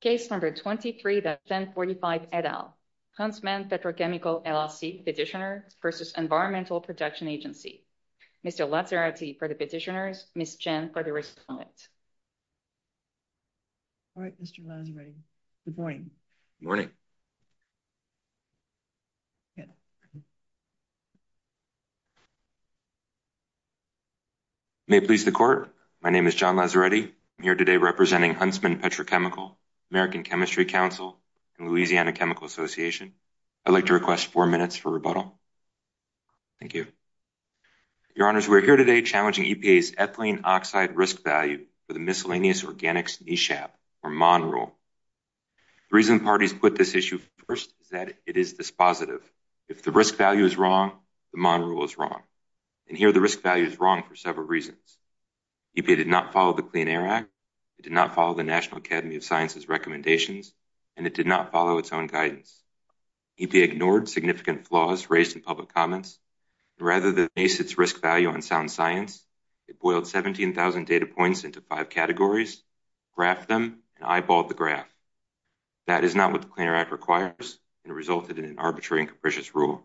Case number 23-1045 et al. Huntsman Petrochemical LLC Petitioner versus Environmental Protection Agency. Mr. Lazzaretti for the petitioners, Ms. Chen for the respondent. All right Mr. Lazzaretti. Good morning. Good morning. May it please the court. My name is John Lazzaretti. I'm here today representing Huntsman Petrochemical, American Chemistry Council, and Louisiana Chemical Association. I'd like to request four minutes for rebuttal. Thank you. Your honors, we're here today challenging EPA's ethylene oxide risk value for the miscellaneous organics NESHAP or MON rule. The reason parties put this issue first is that it is dispositive. If the risk value is wrong, the MON rule is wrong. And here the risk value is wrong for several reasons. EPA did not follow the Clean Air Act, it did not follow the National Academy of Sciences recommendations, and it did not follow its own guidance. EPA ignored significant flaws raised in public comments. Rather than base its risk value on sound science, it boiled 17,000 data points into five categories, graphed them, and eyeballed the graph. That is not what the Clean Air Act requires and resulted in an arbitrary and capricious rule.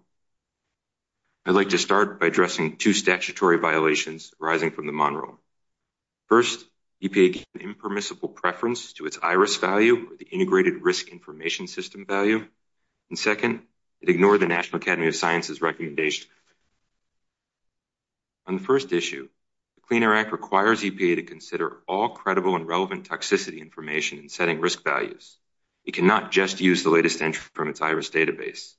I'd like to start by addressing two statutory violations arising from the MON rule. First, EPA gave an impermissible preference to its iris value or the integrated risk information system value. And second, it ignored the National Academy of Sciences recommendation. On the first issue, the Clean Air Act requires EPA to consider all credible and relevant toxicity information in setting risk values. It cannot just use the latest entry from its iris database.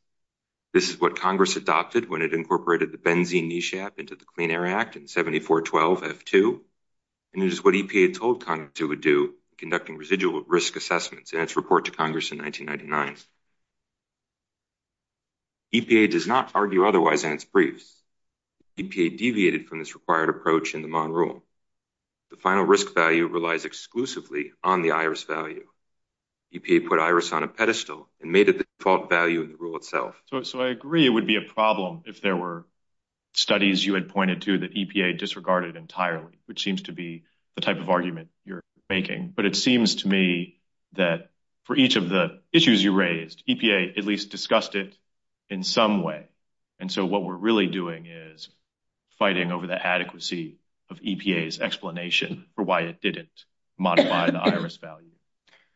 This is what Congress adopted when it incorporated the benzene NESHAP into the Clean Air Act in 7412F2, and it is what EPA told Congress it would do conducting residual risk assessments in its report to Congress in 1999. EPA does not argue otherwise in its briefs. EPA deviated from this required approach in the MON rule. The final risk value relies exclusively on the iris value. EPA put iris on a pedestal and made it the default value in the rule itself. So I agree it would be a problem if there were studies you had pointed to that EPA disregarded entirely, which seems to be the type of argument you're making. But it seems to me that for each of the issues you raised, EPA at least discussed it in some way. And so what we're really doing is fighting over the adequacy of EPA's explanation for why it didn't modify the iris value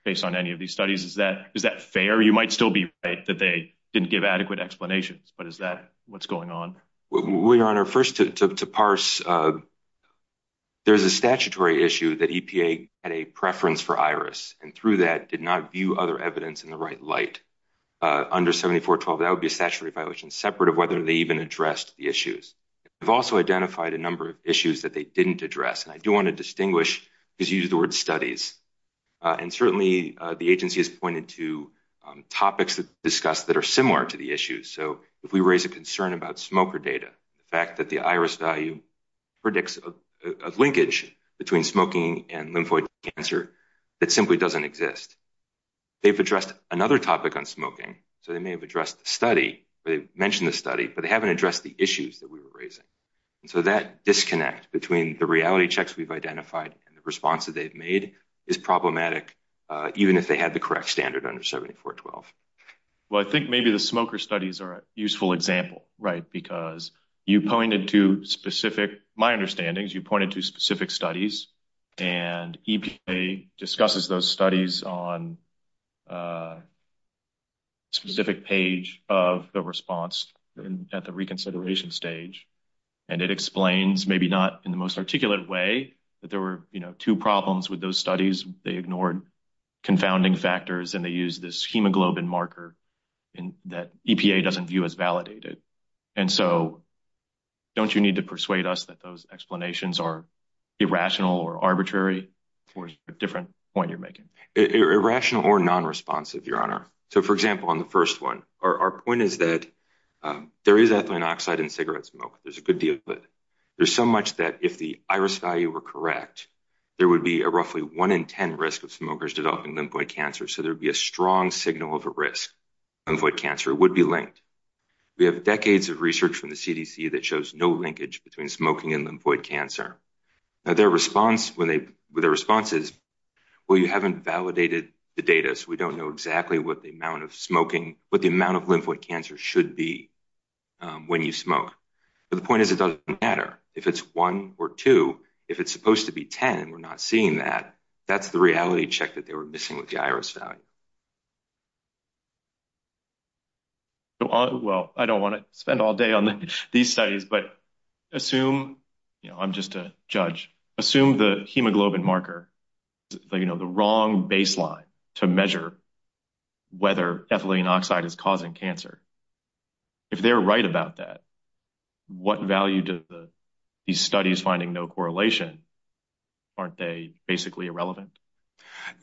based on any of these studies. Is that fair? You might still be right that they didn't give adequate explanations, but is that what's going on? Well, Your Honor, first to parse, there's a statutory issue that EPA had a preference for iris and through that did not view other evidence in the right light. Under 7412, that would be a statutory violation separate of whether they even addressed the issues. They've also identified a is used the word studies. And certainly the agency has pointed to topics that are similar to the issues. So if we raise a concern about smoker data, the fact that the iris value predicts a linkage between smoking and lymphoid cancer that simply doesn't exist. They've addressed another topic on smoking, so they may have addressed the study, but they haven't addressed the issues that we were raising. And so that disconnect between the reality checks we've identified and the response that they've made is problematic, even if they had the correct standard under 7412. Well, I think maybe the smoker studies are a useful example, right? Because you pointed to specific, my understanding is you pointed to specific studies, and EPA discusses those studies on a specific page of the response at the reconsideration stage. And it explains, maybe not in the most articulate way, that there were two problems with those studies. They ignored confounding factors, and they used this hemoglobin marker that EPA doesn't view as validated. And so don't you need to persuade us that those explanations are irrational or arbitrary towards a different point you're making? Irrational or non-responsive, Your Honor. So for example, on the first one, our point is that there is ethylene oxide in cigarette smoke. There's a good deal of it. There's so much that if the iris value were correct, there would be a roughly one in 10 risk of smokers developing lymphoid cancer. So there'd be a strong signal of a risk. Lymphoid cancer would be linked. We have decades of research from the CDC that shows no linkage between smoking and lymphoid cancer. Their response is, well, you haven't validated the data, so we don't know exactly what the amount of smoking, what the amount of lymphoid cancer should be when you smoke. But the point is it doesn't matter if it's one or two. If it's supposed to be 10, we're not seeing that. That's the reality check that they were missing with the Well, I don't want to spend all day on these studies, but assume, you know, I'm just a judge. Assume the hemoglobin marker, you know, the wrong baseline to measure whether ethylene oxide is causing cancer. If they're right about that, what value do these studies finding no correlation? Aren't they basically irrelevant?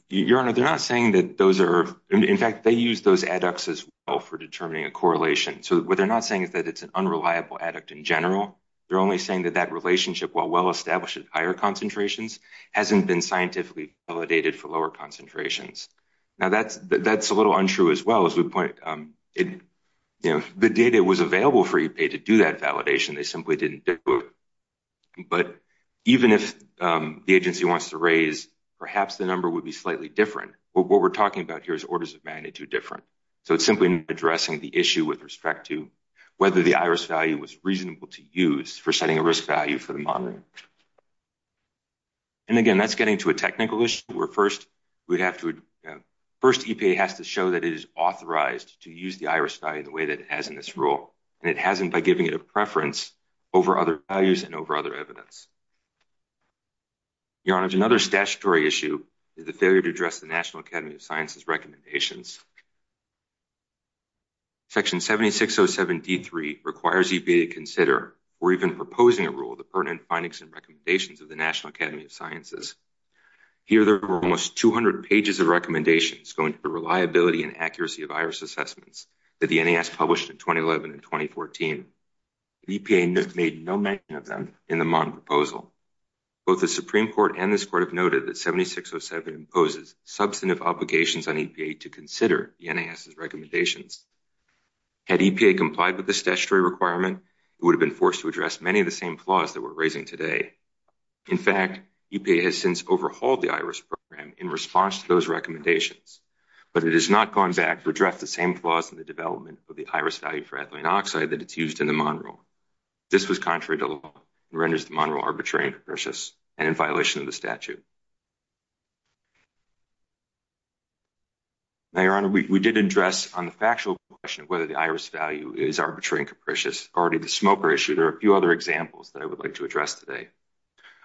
Your Honor, they're not saying that those are, in fact, they use those adducts as well for determining a correlation. So what they're not saying is that it's an unreliable adduct in general. They're only saying that that relationship, while well established at higher concentrations, hasn't been scientifically validated for lower concentrations. Now, that's a little untrue as well, as we point, you know, the data was available for EPA to do that validation. They simply didn't do it. But even if the agency wants to raise, perhaps the number would be slightly different. What we're talking about here is orders of magnitude different. So it's simply addressing the issue with respect to whether the iris value was reasonable to use for setting a risk value for the monitoring. And again, that's getting to a technical issue where first we'd have to, first EPA has to show that it is authorized to use the iris value in the way that it has in this rule. And it hasn't by giving it a preference over other values and over other evidence. Your honor, another statutory issue is the failure to address the National Academy of Sciences recommendations. Section 7607 D3 requires EPA to consider or even proposing a rule that pertinent findings and recommendations of the National Academy of Sciences. Here, there were almost 200 pages of recommendations going to the reliability and accuracy of iris assessments that the NAS published in 2011 and 2014. EPA made no mention of them in the Mon proposal. Both the Supreme Court and this court have noted that 7607 imposes substantive obligations on EPA to consider the NAS's recommendations. Had EPA complied with the statutory requirement, it would have been forced to address many of the same flaws that we're raising today. In fact, EPA has since overhauled the iris program in response to those recommendations. But it has not gone back to address the same flaws in the iris value for ethylene oxide that it's used in the Monroe. This was contrary to law and renders the Monroe arbitrary and capricious and in violation of the statute. Now, your honor, we did address on the factual question of whether the iris value is arbitrary and capricious already the smoker issue. There are a few other examples that I would like to address today.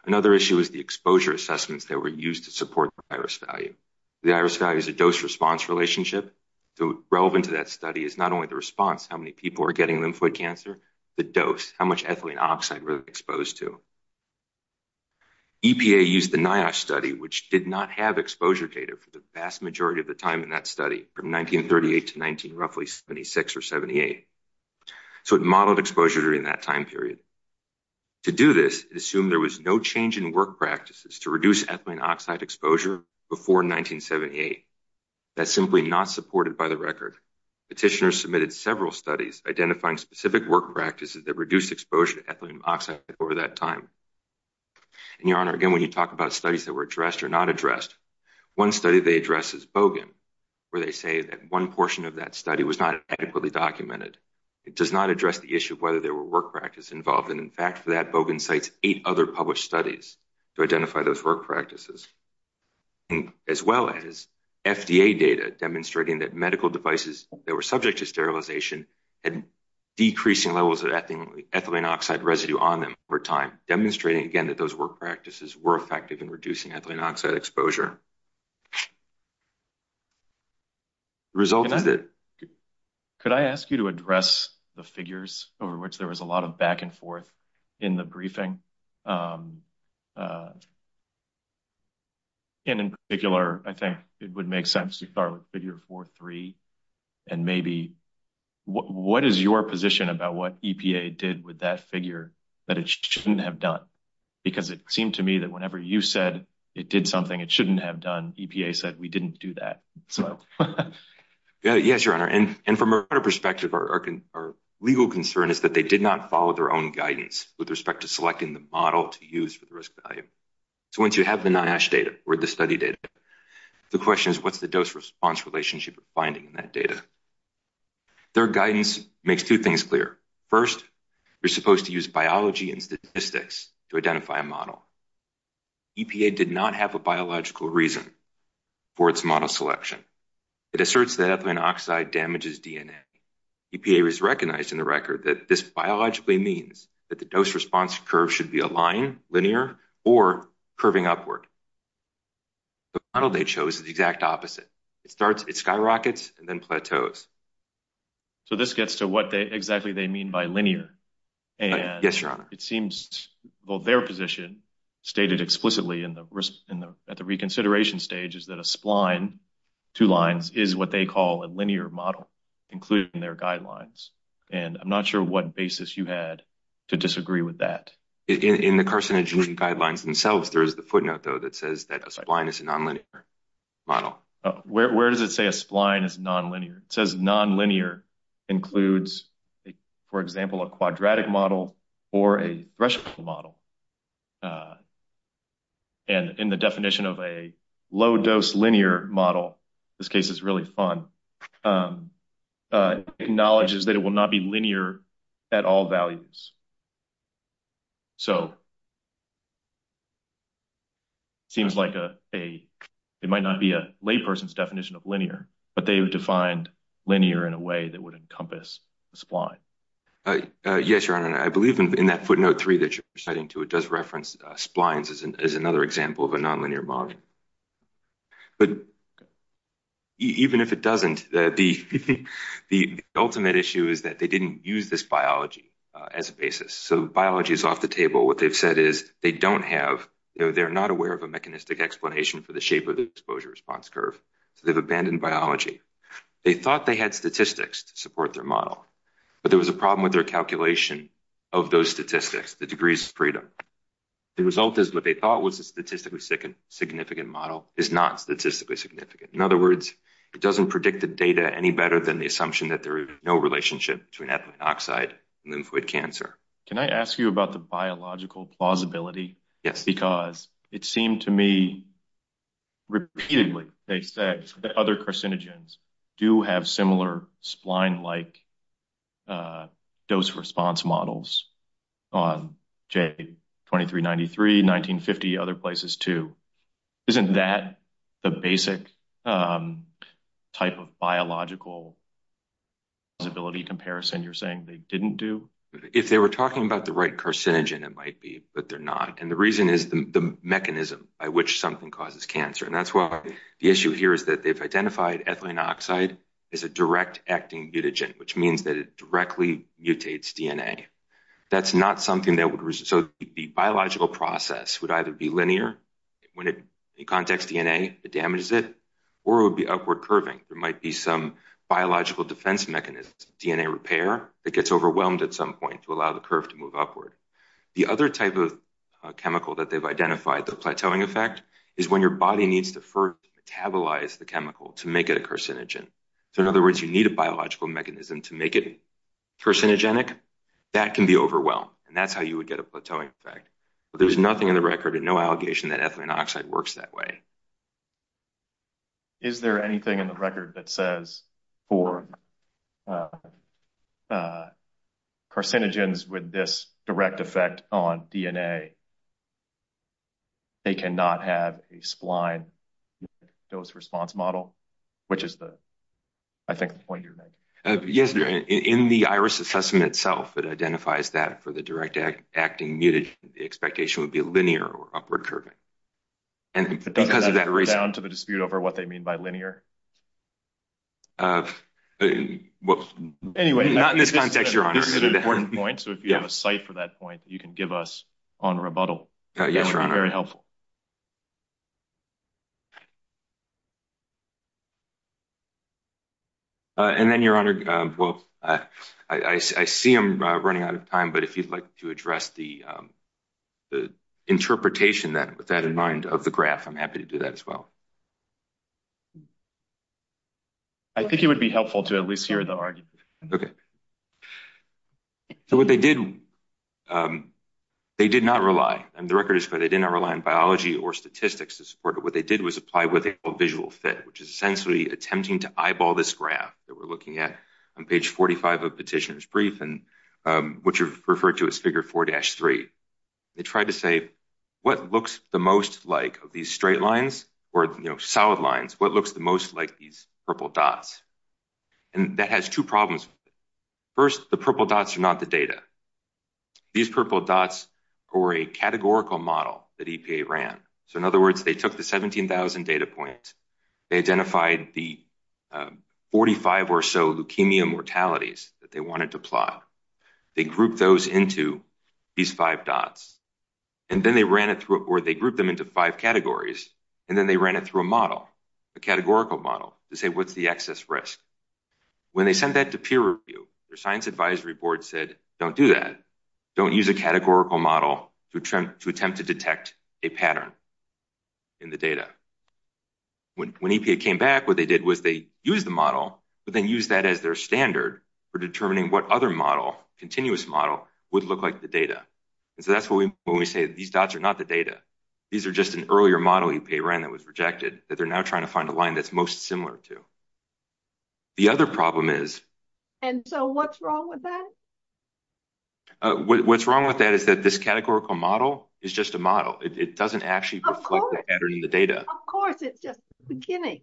Another issue is the exposure assessments that were used to support the iris value. The iris value is a dose response relationship. So relevant to that study is not only the response, how many people are getting lymphoid cancer, the dose, how much ethylene oxide were exposed to. EPA used the NIOSH study, which did not have exposure data for the vast majority of the time in that study, from 1938 to roughly 76 or 78. So it modeled exposure during that time period. To do this, it assumed there was no change in work practices to reduce ethylene oxide exposure before 1978. That's simply not supported by the record. Petitioners submitted several studies identifying specific work practices that reduced exposure to ethylene oxide over that time. And your honor, again, when you talk about studies that were addressed or not addressed, one study they address is Bogan, where they say that one portion of that study was not adequately documented. It does not address the issue of whether there were work practice involved. And in fact, for that, Bogan cites eight other published studies to identify those work practices, and as well as FDA data demonstrating that medical devices that were subject to sterilization had decreasing levels of ethylene oxide residue on them over time, demonstrating, again, that those work practices were effective in reducing ethylene oxide exposure. The result is that... Could I ask you to address the figures over which there was a lot of back and forth in the briefing? And in particular, I think it would make sense to start with figure 4.3, and maybe what is your position about what EPA did with that figure that it shouldn't have done? Because it seemed to me that whenever you said it did something it shouldn't have done, EPA said we didn't do that. Yes, your honor. And from our perspective, our legal concern is that they did not follow their guidance with respect to selecting the model to use for the risk value. So, once you have the NIOSH data or the study data, the question is what's the dose-response relationship you're finding in that data? Their guidance makes two things clear. First, you're supposed to use biology and statistics to identify a model. EPA did not have a biological reason for its model selection. It asserts that ethylene oxide damages DNA. EPA was recognized in the record that this biologically means that the dose-response curve should be a line, linear, or curving upward. The model they chose is the exact opposite. It starts, it skyrockets, and then plateaus. So this gets to what exactly they mean by linear. Yes, your honor. And it seems, well, their position stated explicitly at the reconsideration stage is that a spline, two lines, is what they call a linear model, including their guidelines. And I'm not sure what basis you had to disagree with that. In the carcinogenic guidelines themselves, there is the footnote, though, that says that a spline is a nonlinear model. Where does it say a spline is nonlinear? It says nonlinear includes, for example, a quadratic model or a threshold model. And in the definition of a low-dose linear model, this case is really fun, acknowledges that it will not be linear at all values. So it seems like a, it might not be a layperson's definition of linear, but they've defined linear in a way that would encompass the spline. Yes, your honor. And I believe in that footnote three that you're citing too, it does reference splines as another example of a nonlinear model. But even if it doesn't, the ultimate issue is that they didn't use this biology as a basis. So biology is off the table. What they've said is they don't have, you know, they're not aware of a mechanistic explanation for the shape of the exposure response curve. So they've abandoned biology. They thought they had statistics to support their model, but there was a problem with their calculation of those statistics, the degrees of freedom. The result is what they thought was a statistically significant model is not statistically significant. In other words, it doesn't predict the data any better than the assumption that there is no relationship between ethylene oxide and lymphoid cancer. Can I ask you about the other carcinogens do have similar spline-like dose response models on J2393, 1950, other places too. Isn't that the basic type of biological disability comparison you're saying they didn't do? If they were talking about the right carcinogen, it might be, but they're not. And the reason is the mechanism by which something causes cancer. And that's why the issue here is that they've identified ethylene oxide as a direct acting mutagen, which means that it directly mutates DNA. That's not something that would, so the biological process would either be linear when it contacts DNA, it damages it, or it would be upward curving. There might be some biological defense mechanisms, DNA repair that gets overwhelmed at some point to allow the curve to move upward. The other type of chemical that they've identified, the plateauing effect, is when your body needs to first metabolize the chemical to make it a carcinogen. So in other words, you need a biological mechanism to make it carcinogenic. That can be overwhelmed, and that's how you would get a plateauing effect. But there's nothing in the record and no allegation that ethylene oxide works that way. Is there anything in the record that says for carcinogens with direct effect on DNA, they cannot have a spline dose response model? Which is the, I think, the point you're making. Yes, in the iris assessment itself, it identifies that for the direct acting mutagen, the expectation would be linear or upward curving. And because of that reason... Does that add down to the dispute over what they mean by linear? Well, not in this context, Your Honor. This is an important point, so if you have a site for that point, you can give us on rebuttal. Yes, Your Honor. That would be very helpful. And then, Your Honor, well, I see I'm running out of time, but if you'd like to address the interpretation with that in mind of the graph, I'm happy to do that as well. I think it would be helpful to at least hear the argument. Okay. So what they did, they did not rely, and the record is clear, they did not rely on biology or statistics to support it. What they did was apply what they call visual fit, which is essentially attempting to eyeball this graph that we're looking at on page 45 of Petitioner's Brief, which you've referred to as figure 4-3. They tried to say, what looks the most like of these straight lines or, you know, most like these purple dots? And that has two problems. First, the purple dots are not the data. These purple dots are a categorical model that EPA ran. So, in other words, they took the 17,000 data points, they identified the 45 or so leukemia mortalities that they wanted to plot, they grouped those into these five dots, and then they ran it through, or they grouped them into five categories, and then they ran it through a model, a categorical model, to say, what's the excess risk? When they sent that to peer review, their science advisory board said, don't do that. Don't use a categorical model to attempt to detect a pattern in the data. When EPA came back, what they did was they used the model, but then used that as their standard for determining what other model, continuous model, would look like the data. And so that's when we say these dots are not the data. These are just an earlier model EPA ran that was rejected that they're now trying to find a line that's most similar to. The other problem is... And so what's wrong with that? What's wrong with that is that this categorical model is just a model. It doesn't actually reflect the pattern in the data. Of course, it's just the beginning.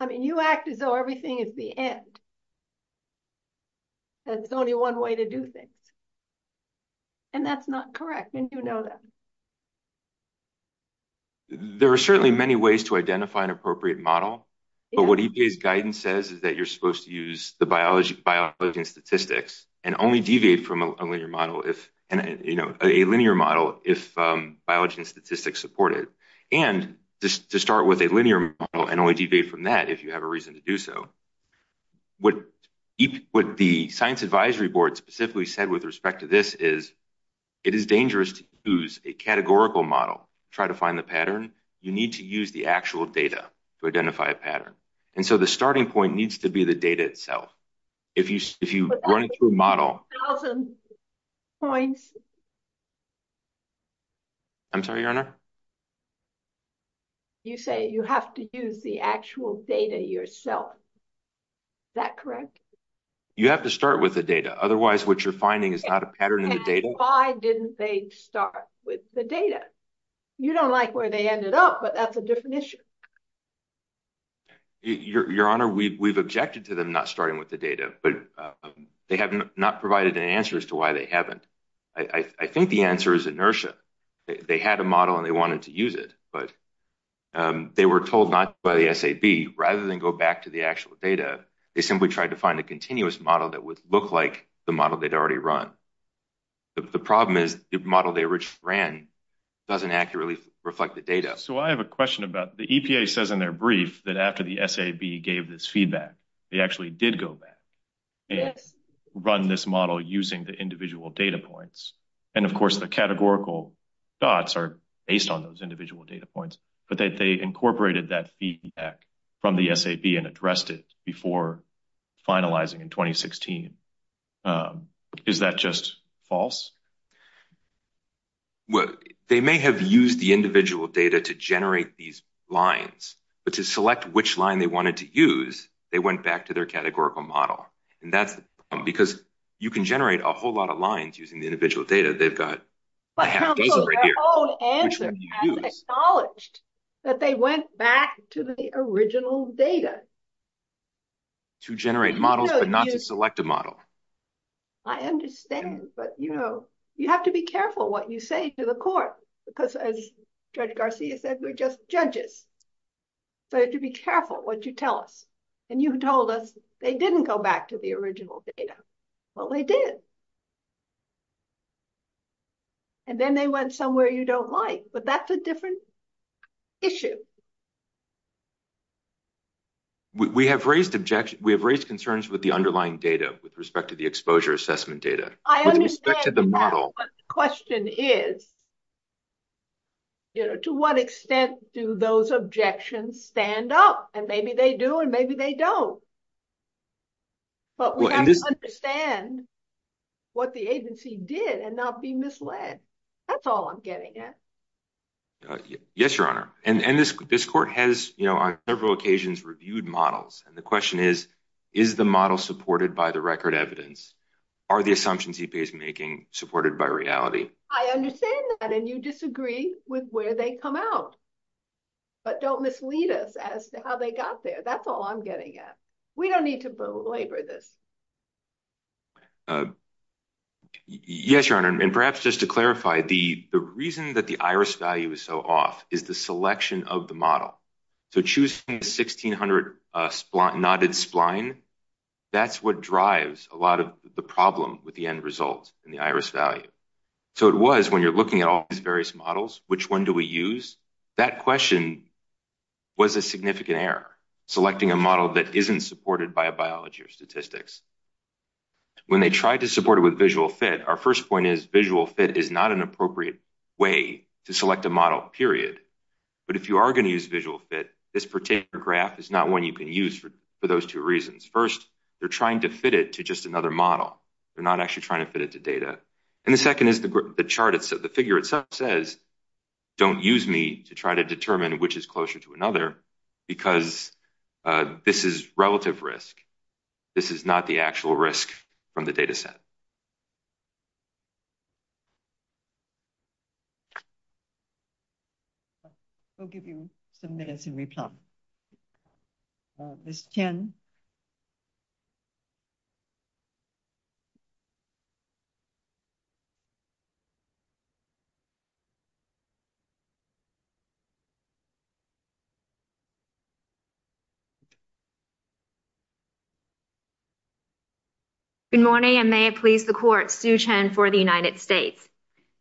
I mean, you act as though everything is the end. There's only one way to do things. And that's not correct, and you know that. There are certainly many ways to identify an appropriate model, but what EPA's guidance says is that you're supposed to use the biology and statistics, and only deviate from a linear model if, you know, a linear model, if biology and statistics support it. And to start with a reason to do so, what the Science Advisory Board specifically said with respect to this is it is dangerous to use a categorical model to try to find the pattern. You need to use the actual data to identify a pattern. And so the starting point needs to be the data itself. If you run data yourself, is that correct? You have to start with the data. Otherwise, what you're finding is not a pattern in the data. And why didn't they start with the data? You don't like where they ended up, but that's a different issue. Your Honor, we've objected to them not starting with the data, but they have not provided an answer as to why they haven't. I think the answer is inertia. They had a model and they wanted to use it, but they were told not by the SAB. Rather than go back to the actual data, they simply tried to find a continuous model that would look like the model they'd already run. The problem is the model they ran doesn't accurately reflect the data. So I have a question about the EPA says in their brief that after the SAB gave this feedback, they actually did go back and run this model using the individual data points. And of course, the categorical dots are based on those individual data points, but they incorporated that feedback from the SAB and addressed it before finalizing in 2016. Is that just false? Well, they may have used the individual data to generate these lines, but to select which line they wanted to use, they went back to their categorical model. And that's because you can generate a whole lot of lines using the individual data they've got. But they went back to the original data. To generate models, but not to select a model. I understand, but you know, you have to be careful what you say to the court, because as Judge Garcia said, we're just judges. So to be careful what you tell us. And you told they didn't go back to the original data. Well, they did. And then they went somewhere you don't like, but that's a different issue. We have raised objections. We have raised concerns with the underlying data with respect to the exposure assessment data. I understand, but the question is, you know, to what extent do those objections stand up? And maybe they do, and maybe they don't. But we have to understand what the agency did and not be misled. That's all I'm getting at. Yes, Your Honor. And this court has, you know, on several occasions reviewed models. And the question is, is the model supported by the record evidence? Are the assumptions EPA is making supported by reality? I understand that, and you disagree with where they come out. But don't mislead us as to how they got there. That's all I'm getting at. We don't need to belabor this. Yes, Your Honor. And perhaps just to clarify, the reason that the iris value is so off is the selection of the model. So choosing the 1600 knotted spline, that's what drives a lot of the problem with the end result in the iris value. So it was when you're looking at all models, which one do we use? That question was a significant error, selecting a model that isn't supported by a biology or statistics. When they tried to support it with visual fit, our first point is visual fit is not an appropriate way to select a model, period. But if you are going to use visual fit, this particular graph is not one you can use for those two reasons. First, they're trying to fit it to just another model. They're not actually trying to fit it to data. And the figure itself says, don't use me to try to determine which is closer to another, because this is relative risk. This is not the actual risk from the data set. I'll give you some minutes to replug. Ms. Chen? Good morning, and may it please the court, Sue Chen for the United States.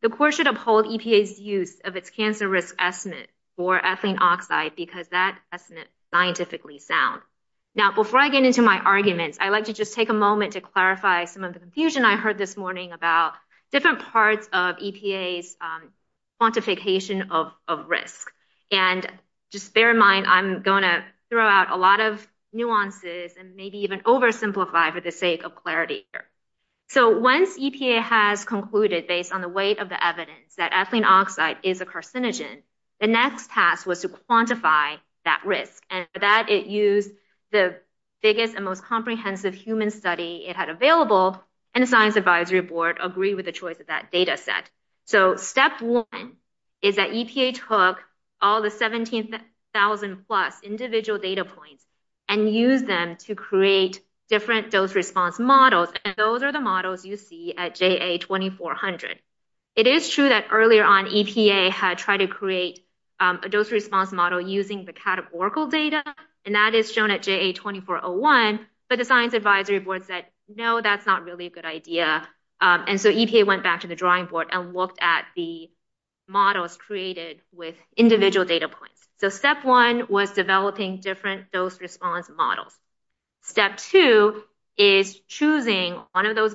The court should uphold EPA's use of its cancer risk estimate for ethylene oxide because that my arguments, I'd like to just take a moment to clarify some of the confusion I heard this morning about different parts of EPA's quantification of risk. And just bear in mind, I'm going to throw out a lot of nuances and maybe even oversimplify for the sake of clarity here. So once EPA has concluded based on the weight of the evidence that ethylene oxide is a carcinogen, the next task was to quantify that risk. And for that, it used the biggest and most comprehensive human study it had available, and the Science Advisory Board agreed with the choice of that data set. So step one is that EPA took all the 17,000 plus individual data points and used them to create different dose response models. And those are the models you see at JA2400. It is true that earlier on, EPA had tried to create a dose response model using the categorical data, and that is shown at JA2401. But the Science Advisory Board said, no, that's not really a good idea. And so EPA went back to the drawing board and looked at the models created with individual data points. So step one was developing different dose response models. Step two is choosing one of And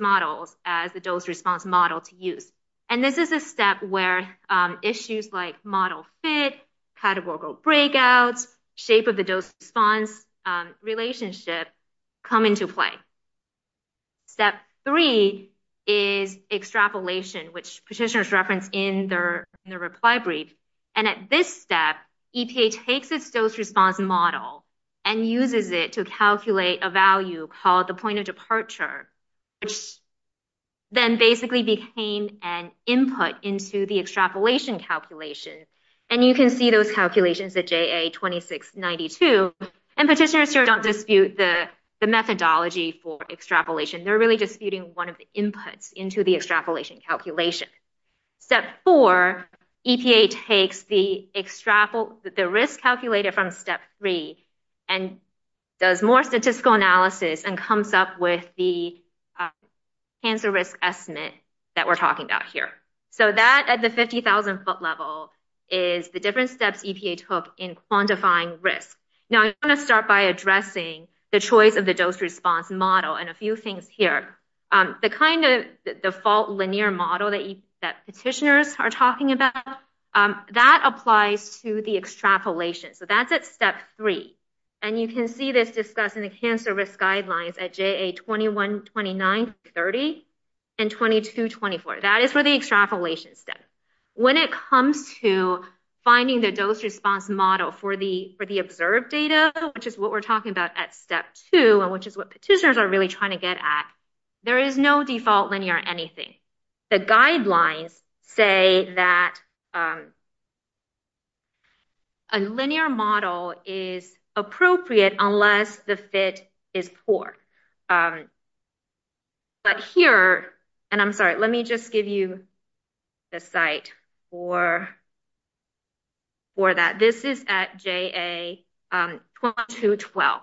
this is a step where issues like model fit, categorical breakouts, shape of the dose response relationship come into play. Step three is extrapolation, which petitioners reference in their reply brief. And at this step, EPA takes its dose response model and uses it to calculate a value called the point of departure, which then basically became an input into the extrapolation calculation. And you can see those calculations at JA2692. And petitioners here don't dispute the methodology for extrapolation. They're really disputing one of the inputs into the extrapolation calculation. Step four, EPA takes the risk calculated from step three and does more statistical analysis and comes up with the risk estimate that we're talking about here. So that at the 50,000 foot level is the different steps EPA took in quantifying risk. Now, I want to start by addressing the choice of the dose response model and a few things here. The kind of default linear model that petitioners are talking about, that applies to the extrapolation. So that's at step three. And you can see this discussed in hand service guidelines at JA212930 and 2224. That is where the extrapolation step. When it comes to finding the dose response model for the observed data, which is what we're talking about at step two, and which is what petitioners are really trying to get at, there is no default linear anything. The guidelines say that a linear model is appropriate unless the fit is poor. But here, and I'm sorry, let me just give you the site for that. This is at JA21212.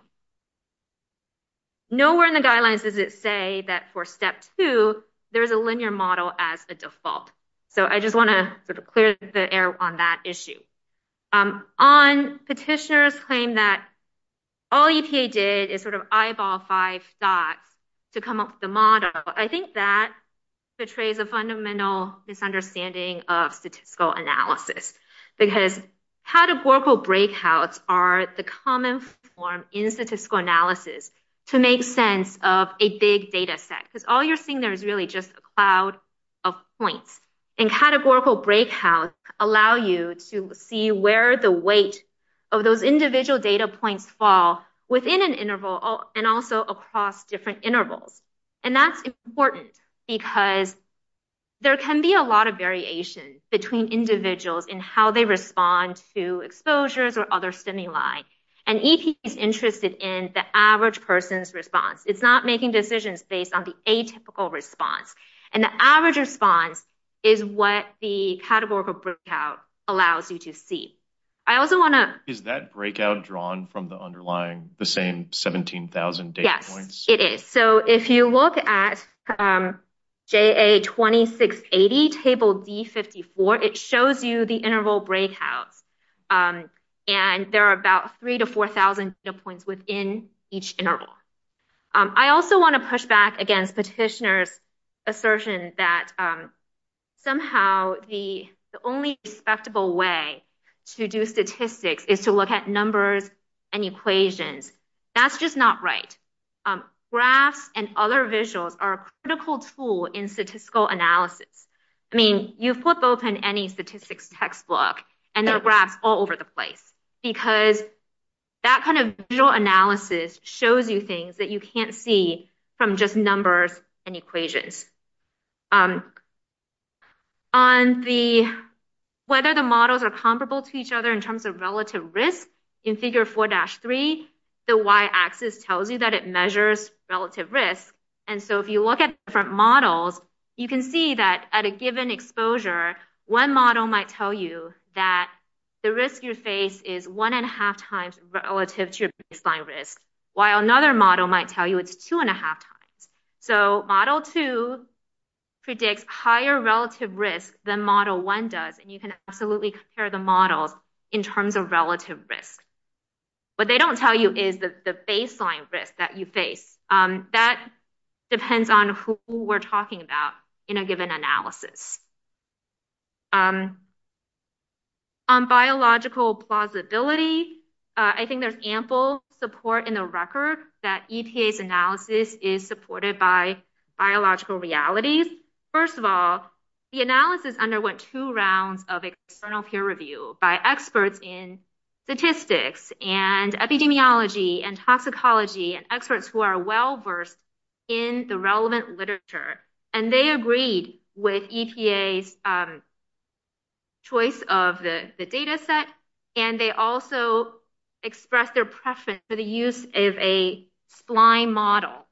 Nowhere in the guidelines does it say that for step two, there is a linear model as a default. So I just want to sort of clear the air on that issue. On petitioners claim that all EPA did is sort of eyeball five dots to come up with the model. I think that portrays a fundamental misunderstanding of statistical analysis, because how do global breakouts are the common form in statistical analysis to make sense of a big data set? Because all you're seeing there is really just a cloud of points. And categorical breakouts allow you to see where the weight of those individual data points fall within an interval and also across different intervals. And that's important because there can be a lot of variation between individuals in how they interested in the average person's response. It's not making decisions based on the atypical response. And the average response is what the categorical breakout allows you to see. Is that breakout drawn from the underlying, the same 17,000 data points? Yes, it is. So if you look at JA2680, table D54, it shows you the interval breakouts. And there are about three to four thousand data points within each interval. I also want to push back against petitioners assertion that somehow the only respectable way to do statistics is to look at numbers and equations. That's just not right. Graphs and other visuals are a critical tool in statistical analysis. I mean, you flip open any statistics textbook and there are graphs all over the place because that kind of visual analysis shows you things that you can't see from just numbers and equations. On the, whether the models are comparable to each other in terms of relative risk, in figure 4-3, the y-axis tells you that it measures relative risk. And so if you look at different models, you can see that at a given exposure, one model might tell you that the risk you face is one and a half times relative to your baseline risk, while another model might tell you it's two and a half times. So model 2 predicts higher relative risk than model 1 does. And you can absolutely compare the models in terms of relative risk. What they don't tell you is the baseline risk that you face. That depends on who we're talking about in a given analysis. On biological plausibility, I think there's ample support in the record that EPA's analysis is supported by biological realities. First of all, the analysis underwent two rounds of external peer review by experts in statistics and epidemiology and toxicology and experts who are well-versed in the relevant literature. And they agreed with EPA's choice of the data set. And they also expressed their preference for the use of a spline model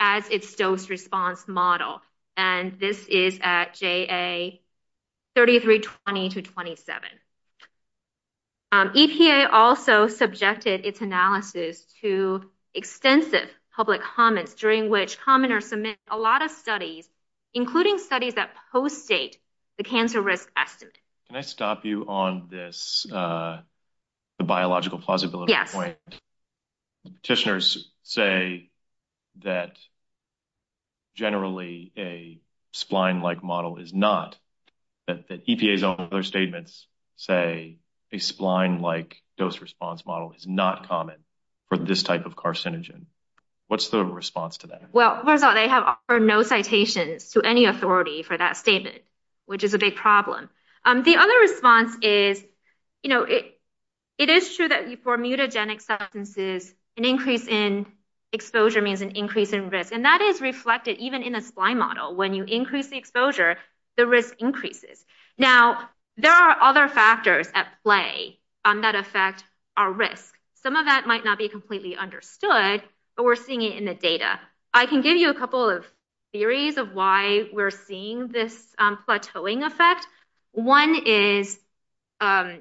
as its dose response model. And this is at JA3320-27. EPA also subjected its analysis to extensive public comments, during which commenters submit a lot of studies, including studies that post-date the cancer risk estimate. Can I stop you on this biological plausibility point? Petitioners say that generally a spline-like model is not, that EPA's own other statements say a spline-like dose response model is not common for this type of carcinogen. What's the response to that? Well, first of all, they have offered no citations to any authority for that statement, which is a big problem. The other response is, you know, it is true that for mutagenic substances, an increase in exposure means an increase in risk. And that is reflected even in a spline model. When you increase the exposure, the risk increases. Now, there are other factors at play that affect our risk. Some of that might not be completely understood, but we're seeing it in the data. I can give you a couple of theories of why we're seeing this plateauing effect. One is, you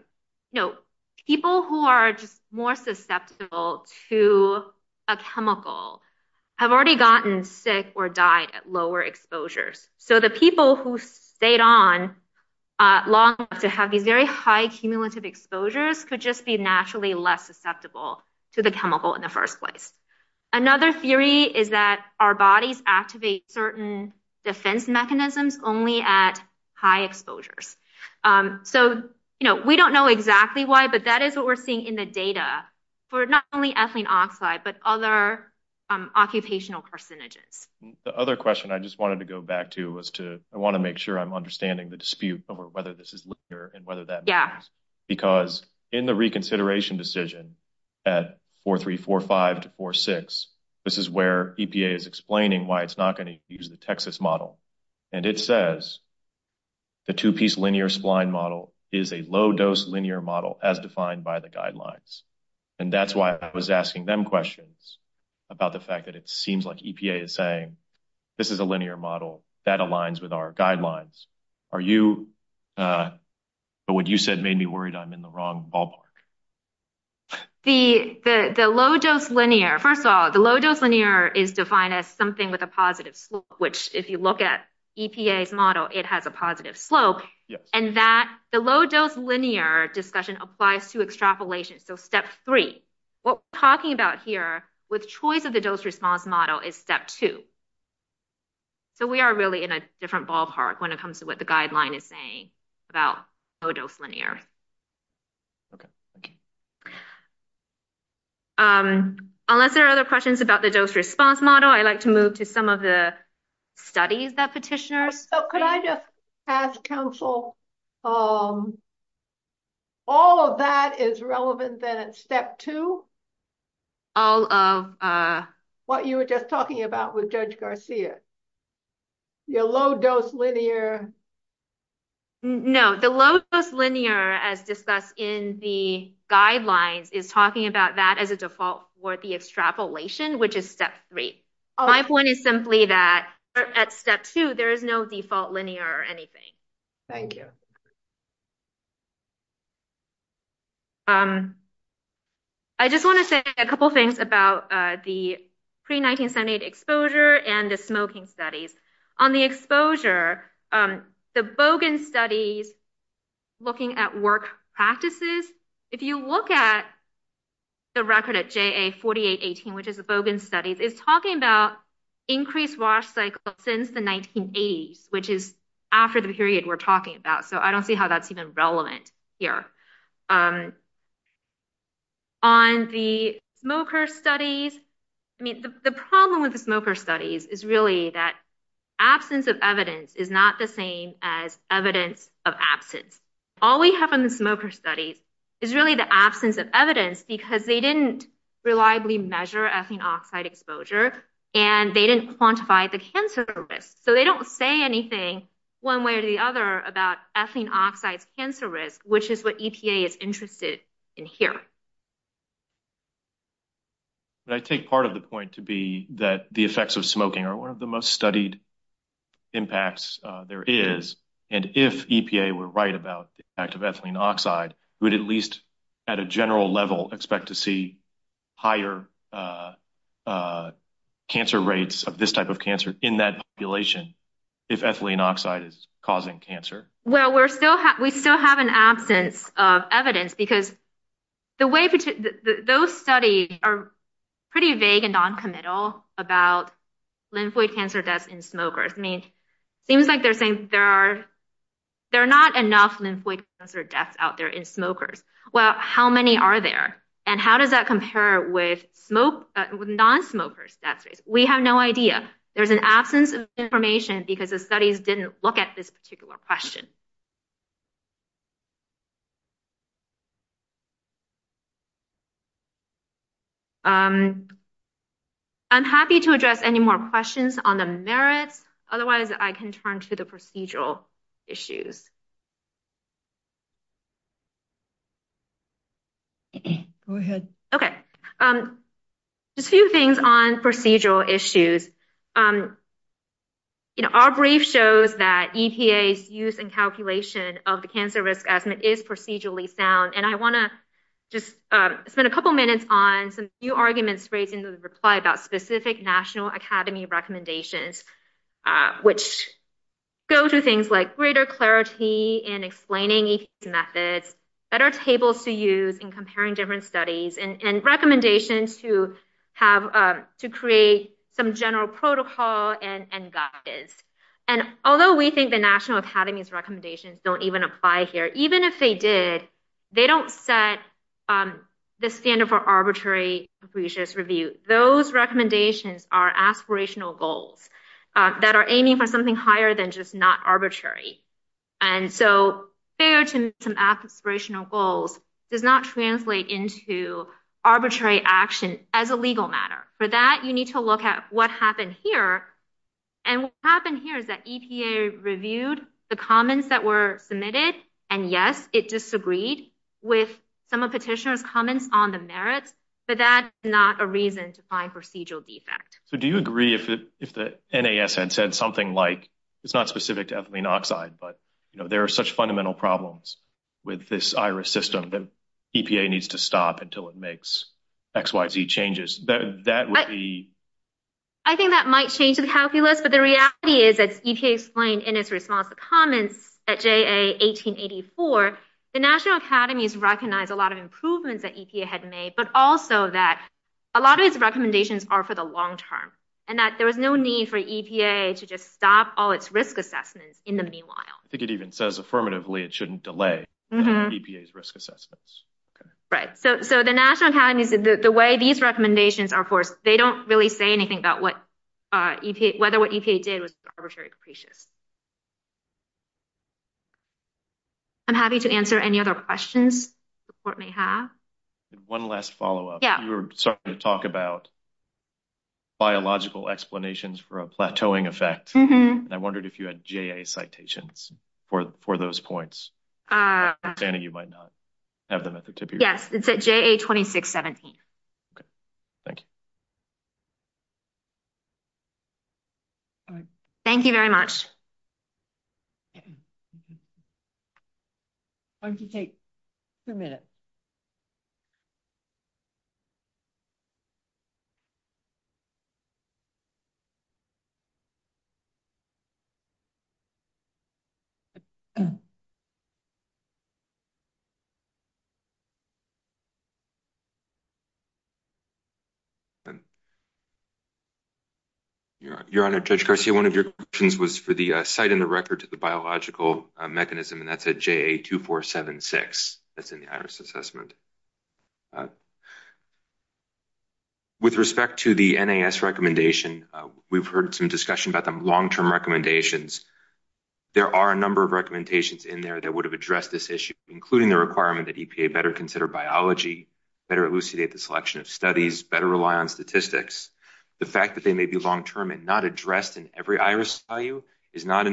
know, people who are just more susceptible to a chemical have already gotten sick or died at lower exposures. So the people who stayed on long enough to have these very high cumulative exposures could just be naturally less susceptible to the chemical in the first place. Another theory is that our bodies activate certain defense mechanisms only at high exposures. So, you know, we don't know exactly why, but that is what we're seeing in the data for not only ethylene oxide, but other occupational carcinogens. The other question I just wanted to go back to was to, I want to make sure I'm understanding the dispute over whether this is linear and whether that matters. Because in the reconsideration at 4.345 to 4.6, this is where EPA is explaining why it's not going to use the Texas model. And it says the two-piece linear spline model is a low-dose linear model as defined by the guidelines. And that's why I was asking them questions about the fact that it seems like EPA is saying this is a linear model that aligns with our guidelines. But what you said made me ballpark. The low-dose linear, first of all, the low-dose linear is defined as something with a positive slope, which if you look at EPA's model, it has a positive slope. And that the low-dose linear discussion applies to extrapolation. So step three, what we're talking about here with choice of the dose response model is step two. So we are really in a different ballpark when it comes to what the guideline is saying about low-dose linear. Okay. Unless there are other questions about the dose response model, I'd like to move to some of the studies that petitioners. So could I just ask counsel, all of that is relevant then at step two? All of what you were just talking about with Judge Garcia, your low-dose linear. No, the low-dose linear as discussed in the guidelines is talking about that as a default for the extrapolation, which is step three. My point is simply that at step two, there is no default linear or anything. Thank you. I just want to say a couple of things about the pre-1978 exposure and the smoking studies. On the exposure, the Bogan studies looking at work practices, if you look at the record at JA4818, which is the Bogan studies, it's talking about increased wash cycle since the 1980s, which is after the period we're talking about. So I don't see how that's even relevant here. On the smoker studies, I mean, the problem with the smoker studies is really that absence of evidence is not the same as evidence of absence. All we have in the smoker studies is really the absence of evidence because they didn't reliably measure ethane oxide exposure and they didn't quantify the cancer risk. So they don't say anything one way or the other about ethane oxide's cancer risk, which is what EPA is interested in hearing. But I take part of the point to be that the effects of smoking are one of the most studied impacts there is. And if EPA were right about the effect of ethylene oxide, we'd at least at a general level expect to see higher cancer rates of this type of cancer in that population if ethylene oxide is causing cancer. Well, we still have an absence of evidence because those studies are pretty vague and noncommittal about lymphoid cancer deaths in smokers. I mean, it seems like they're saying there are not enough lymphoid cancer deaths out there in smokers. Well, how many are there and how does that compare with non-smokers? We have no idea. There's an absence of information because the studies didn't look at this particular question. I'm happy to address any more questions on the merits. Otherwise, I can turn to the procedural issues. Go ahead. Okay. Just a few things on procedural issues. You know, our brief shows that EPA's use and calculation of the cancer risk estimate is procedurally sound. And I want to just spend a couple of minutes on some new arguments in the reply about specific National Academy recommendations, which go to things like greater clarity in explaining methods, better tables to use in comparing different studies and recommendations to create some general protocol and guidance. And although we think the National Academy's recommendations don't even apply here, even if they did, they don't set the standard for review. Those recommendations are aspirational goals that are aiming for something higher than just not arbitrary. And so, fair to some aspirational goals does not translate into arbitrary action as a legal matter. For that, you need to look at what happened here. And what happened here is that EPA reviewed the comments that were submitted. And yes, it disagreed with some of Petitioner's comments on the merits, but that's not a reason to find procedural defect. So, do you agree if the NAS had said something like, it's not specific to ethylene oxide, but there are such fundamental problems with this iris system that EPA needs to stop until it makes X, Y, Z changes? I think that might change the calculus, but the reality is, as EPA explained in its response to comments at JA 1884, the National Academies recognized a lot of improvements that EPA had made, but also that a lot of its recommendations are for the long term, and that there was no need for EPA to just stop all its risk assessments in the meanwhile. I think it even says affirmatively it shouldn't delay EPA's risk assessments. Right. So, the National Academies, the way these recommendations are forced, they don't really say anything about whether what EPA did was arbitrary or capricious. I'm happy to answer any other questions you may have. One last follow-up. You were starting to talk about biological explanations for a plateauing effect. I wondered if you had JA citations for those points. I'm understanding that. Thank you very much. I'm going to take a minute. Your Honor, Judge Garcia, one of your questions was for the cite-in-the-record to the biological mechanism, and that's at JA 2476. That's in the IRIS assessment. With respect to the NAS recommendation, we've heard some discussion about the long-term recommendations. There are a number of recommendations in there that would have addressed this issue, including the requirement that EPA better consider biology, better elucidate the selection of studies, better rely on statistics. The fact that they may be long-term and not addressed in every IRIS value is not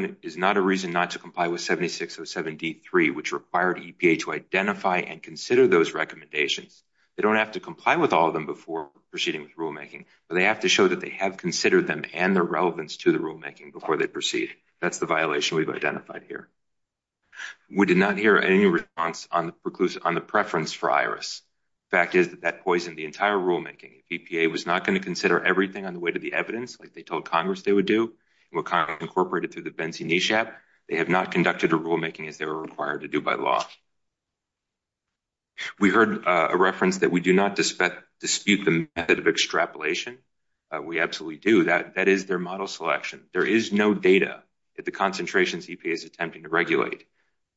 a reason not to comply with 7607D3, which required EPA to identify and consider those recommendations. They don't have to comply with all of them before proceeding with rulemaking, but they have to show that they have considered them and their relevance to the rulemaking before they proceed. That's the violation we've identified here. We did not hear any response on the preference for IRIS. The fact is that that poisoned the entire rulemaking. If EPA was not going to consider everything on the way to the evidence, like they told Congress they would do, and what Congress incorporated through the Benzie-Nishap, they have not conducted a rulemaking as they were required to do by law. We heard a reference that we do not dispute the method of extrapolation. We absolutely do. That is their model selection. There is no data that the concentration EPA is attempting to regulate.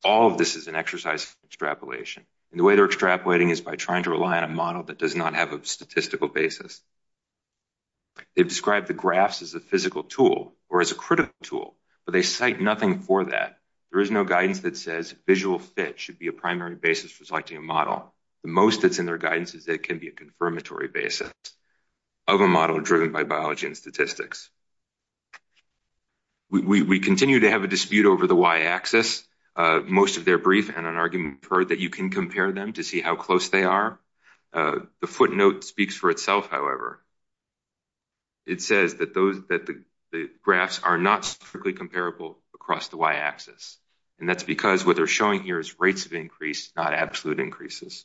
All of this is an exercise in extrapolation. The way they're extrapolating is by trying to rely on a model that does not have a statistical basis. They've described the graphs as a physical tool or as a critical tool, but they cite nothing for that. There is no guidance that says visual fit should be a primary basis for selecting a model. The most that's in their guidance is that it can be a confirmatory basis of a model driven by biology and statistics. We continue to have a dispute over the y-axis. Most of their brief and an argument that you can compare them to see how close they are. The footnote speaks for itself, however. It says that the graphs are not strictly comparable across the y-axis. That's because what they're showing here is rates of increase, not absolute increases.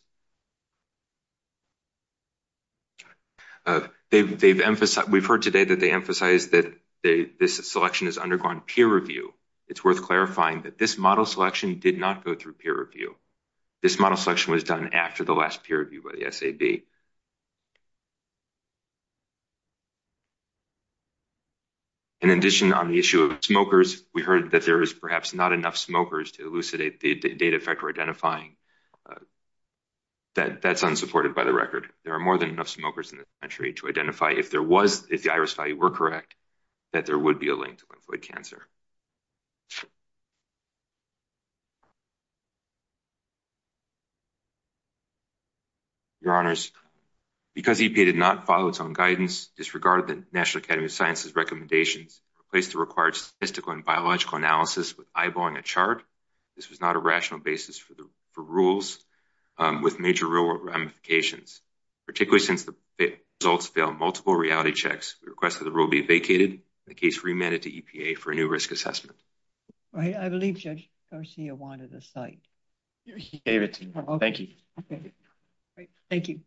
We've heard today that they emphasize that this selection has undergone peer review. It's worth clarifying that this model selection did not go through peer review. This model selection was done after the last peer review by the SAB. In addition, on the issue of smokers, we heard that there is perhaps not enough smokers to There are more than enough smokers in the country to identify if there was, if the iris value were correct, that there would be a link to lymphoid cancer. Your honors, because EPA did not follow its own guidance, disregarded the National Academy of Sciences recommendations, replaced the required statistical and biological analysis with eyeballing chart. This was not a rational basis for rules with major real-world ramifications, particularly since the results failed multiple reality checks. We request that the rule be vacated. The case remanded to EPA for a new risk assessment. I believe Judge Garcia wanted a cite. Thank you. Thank you.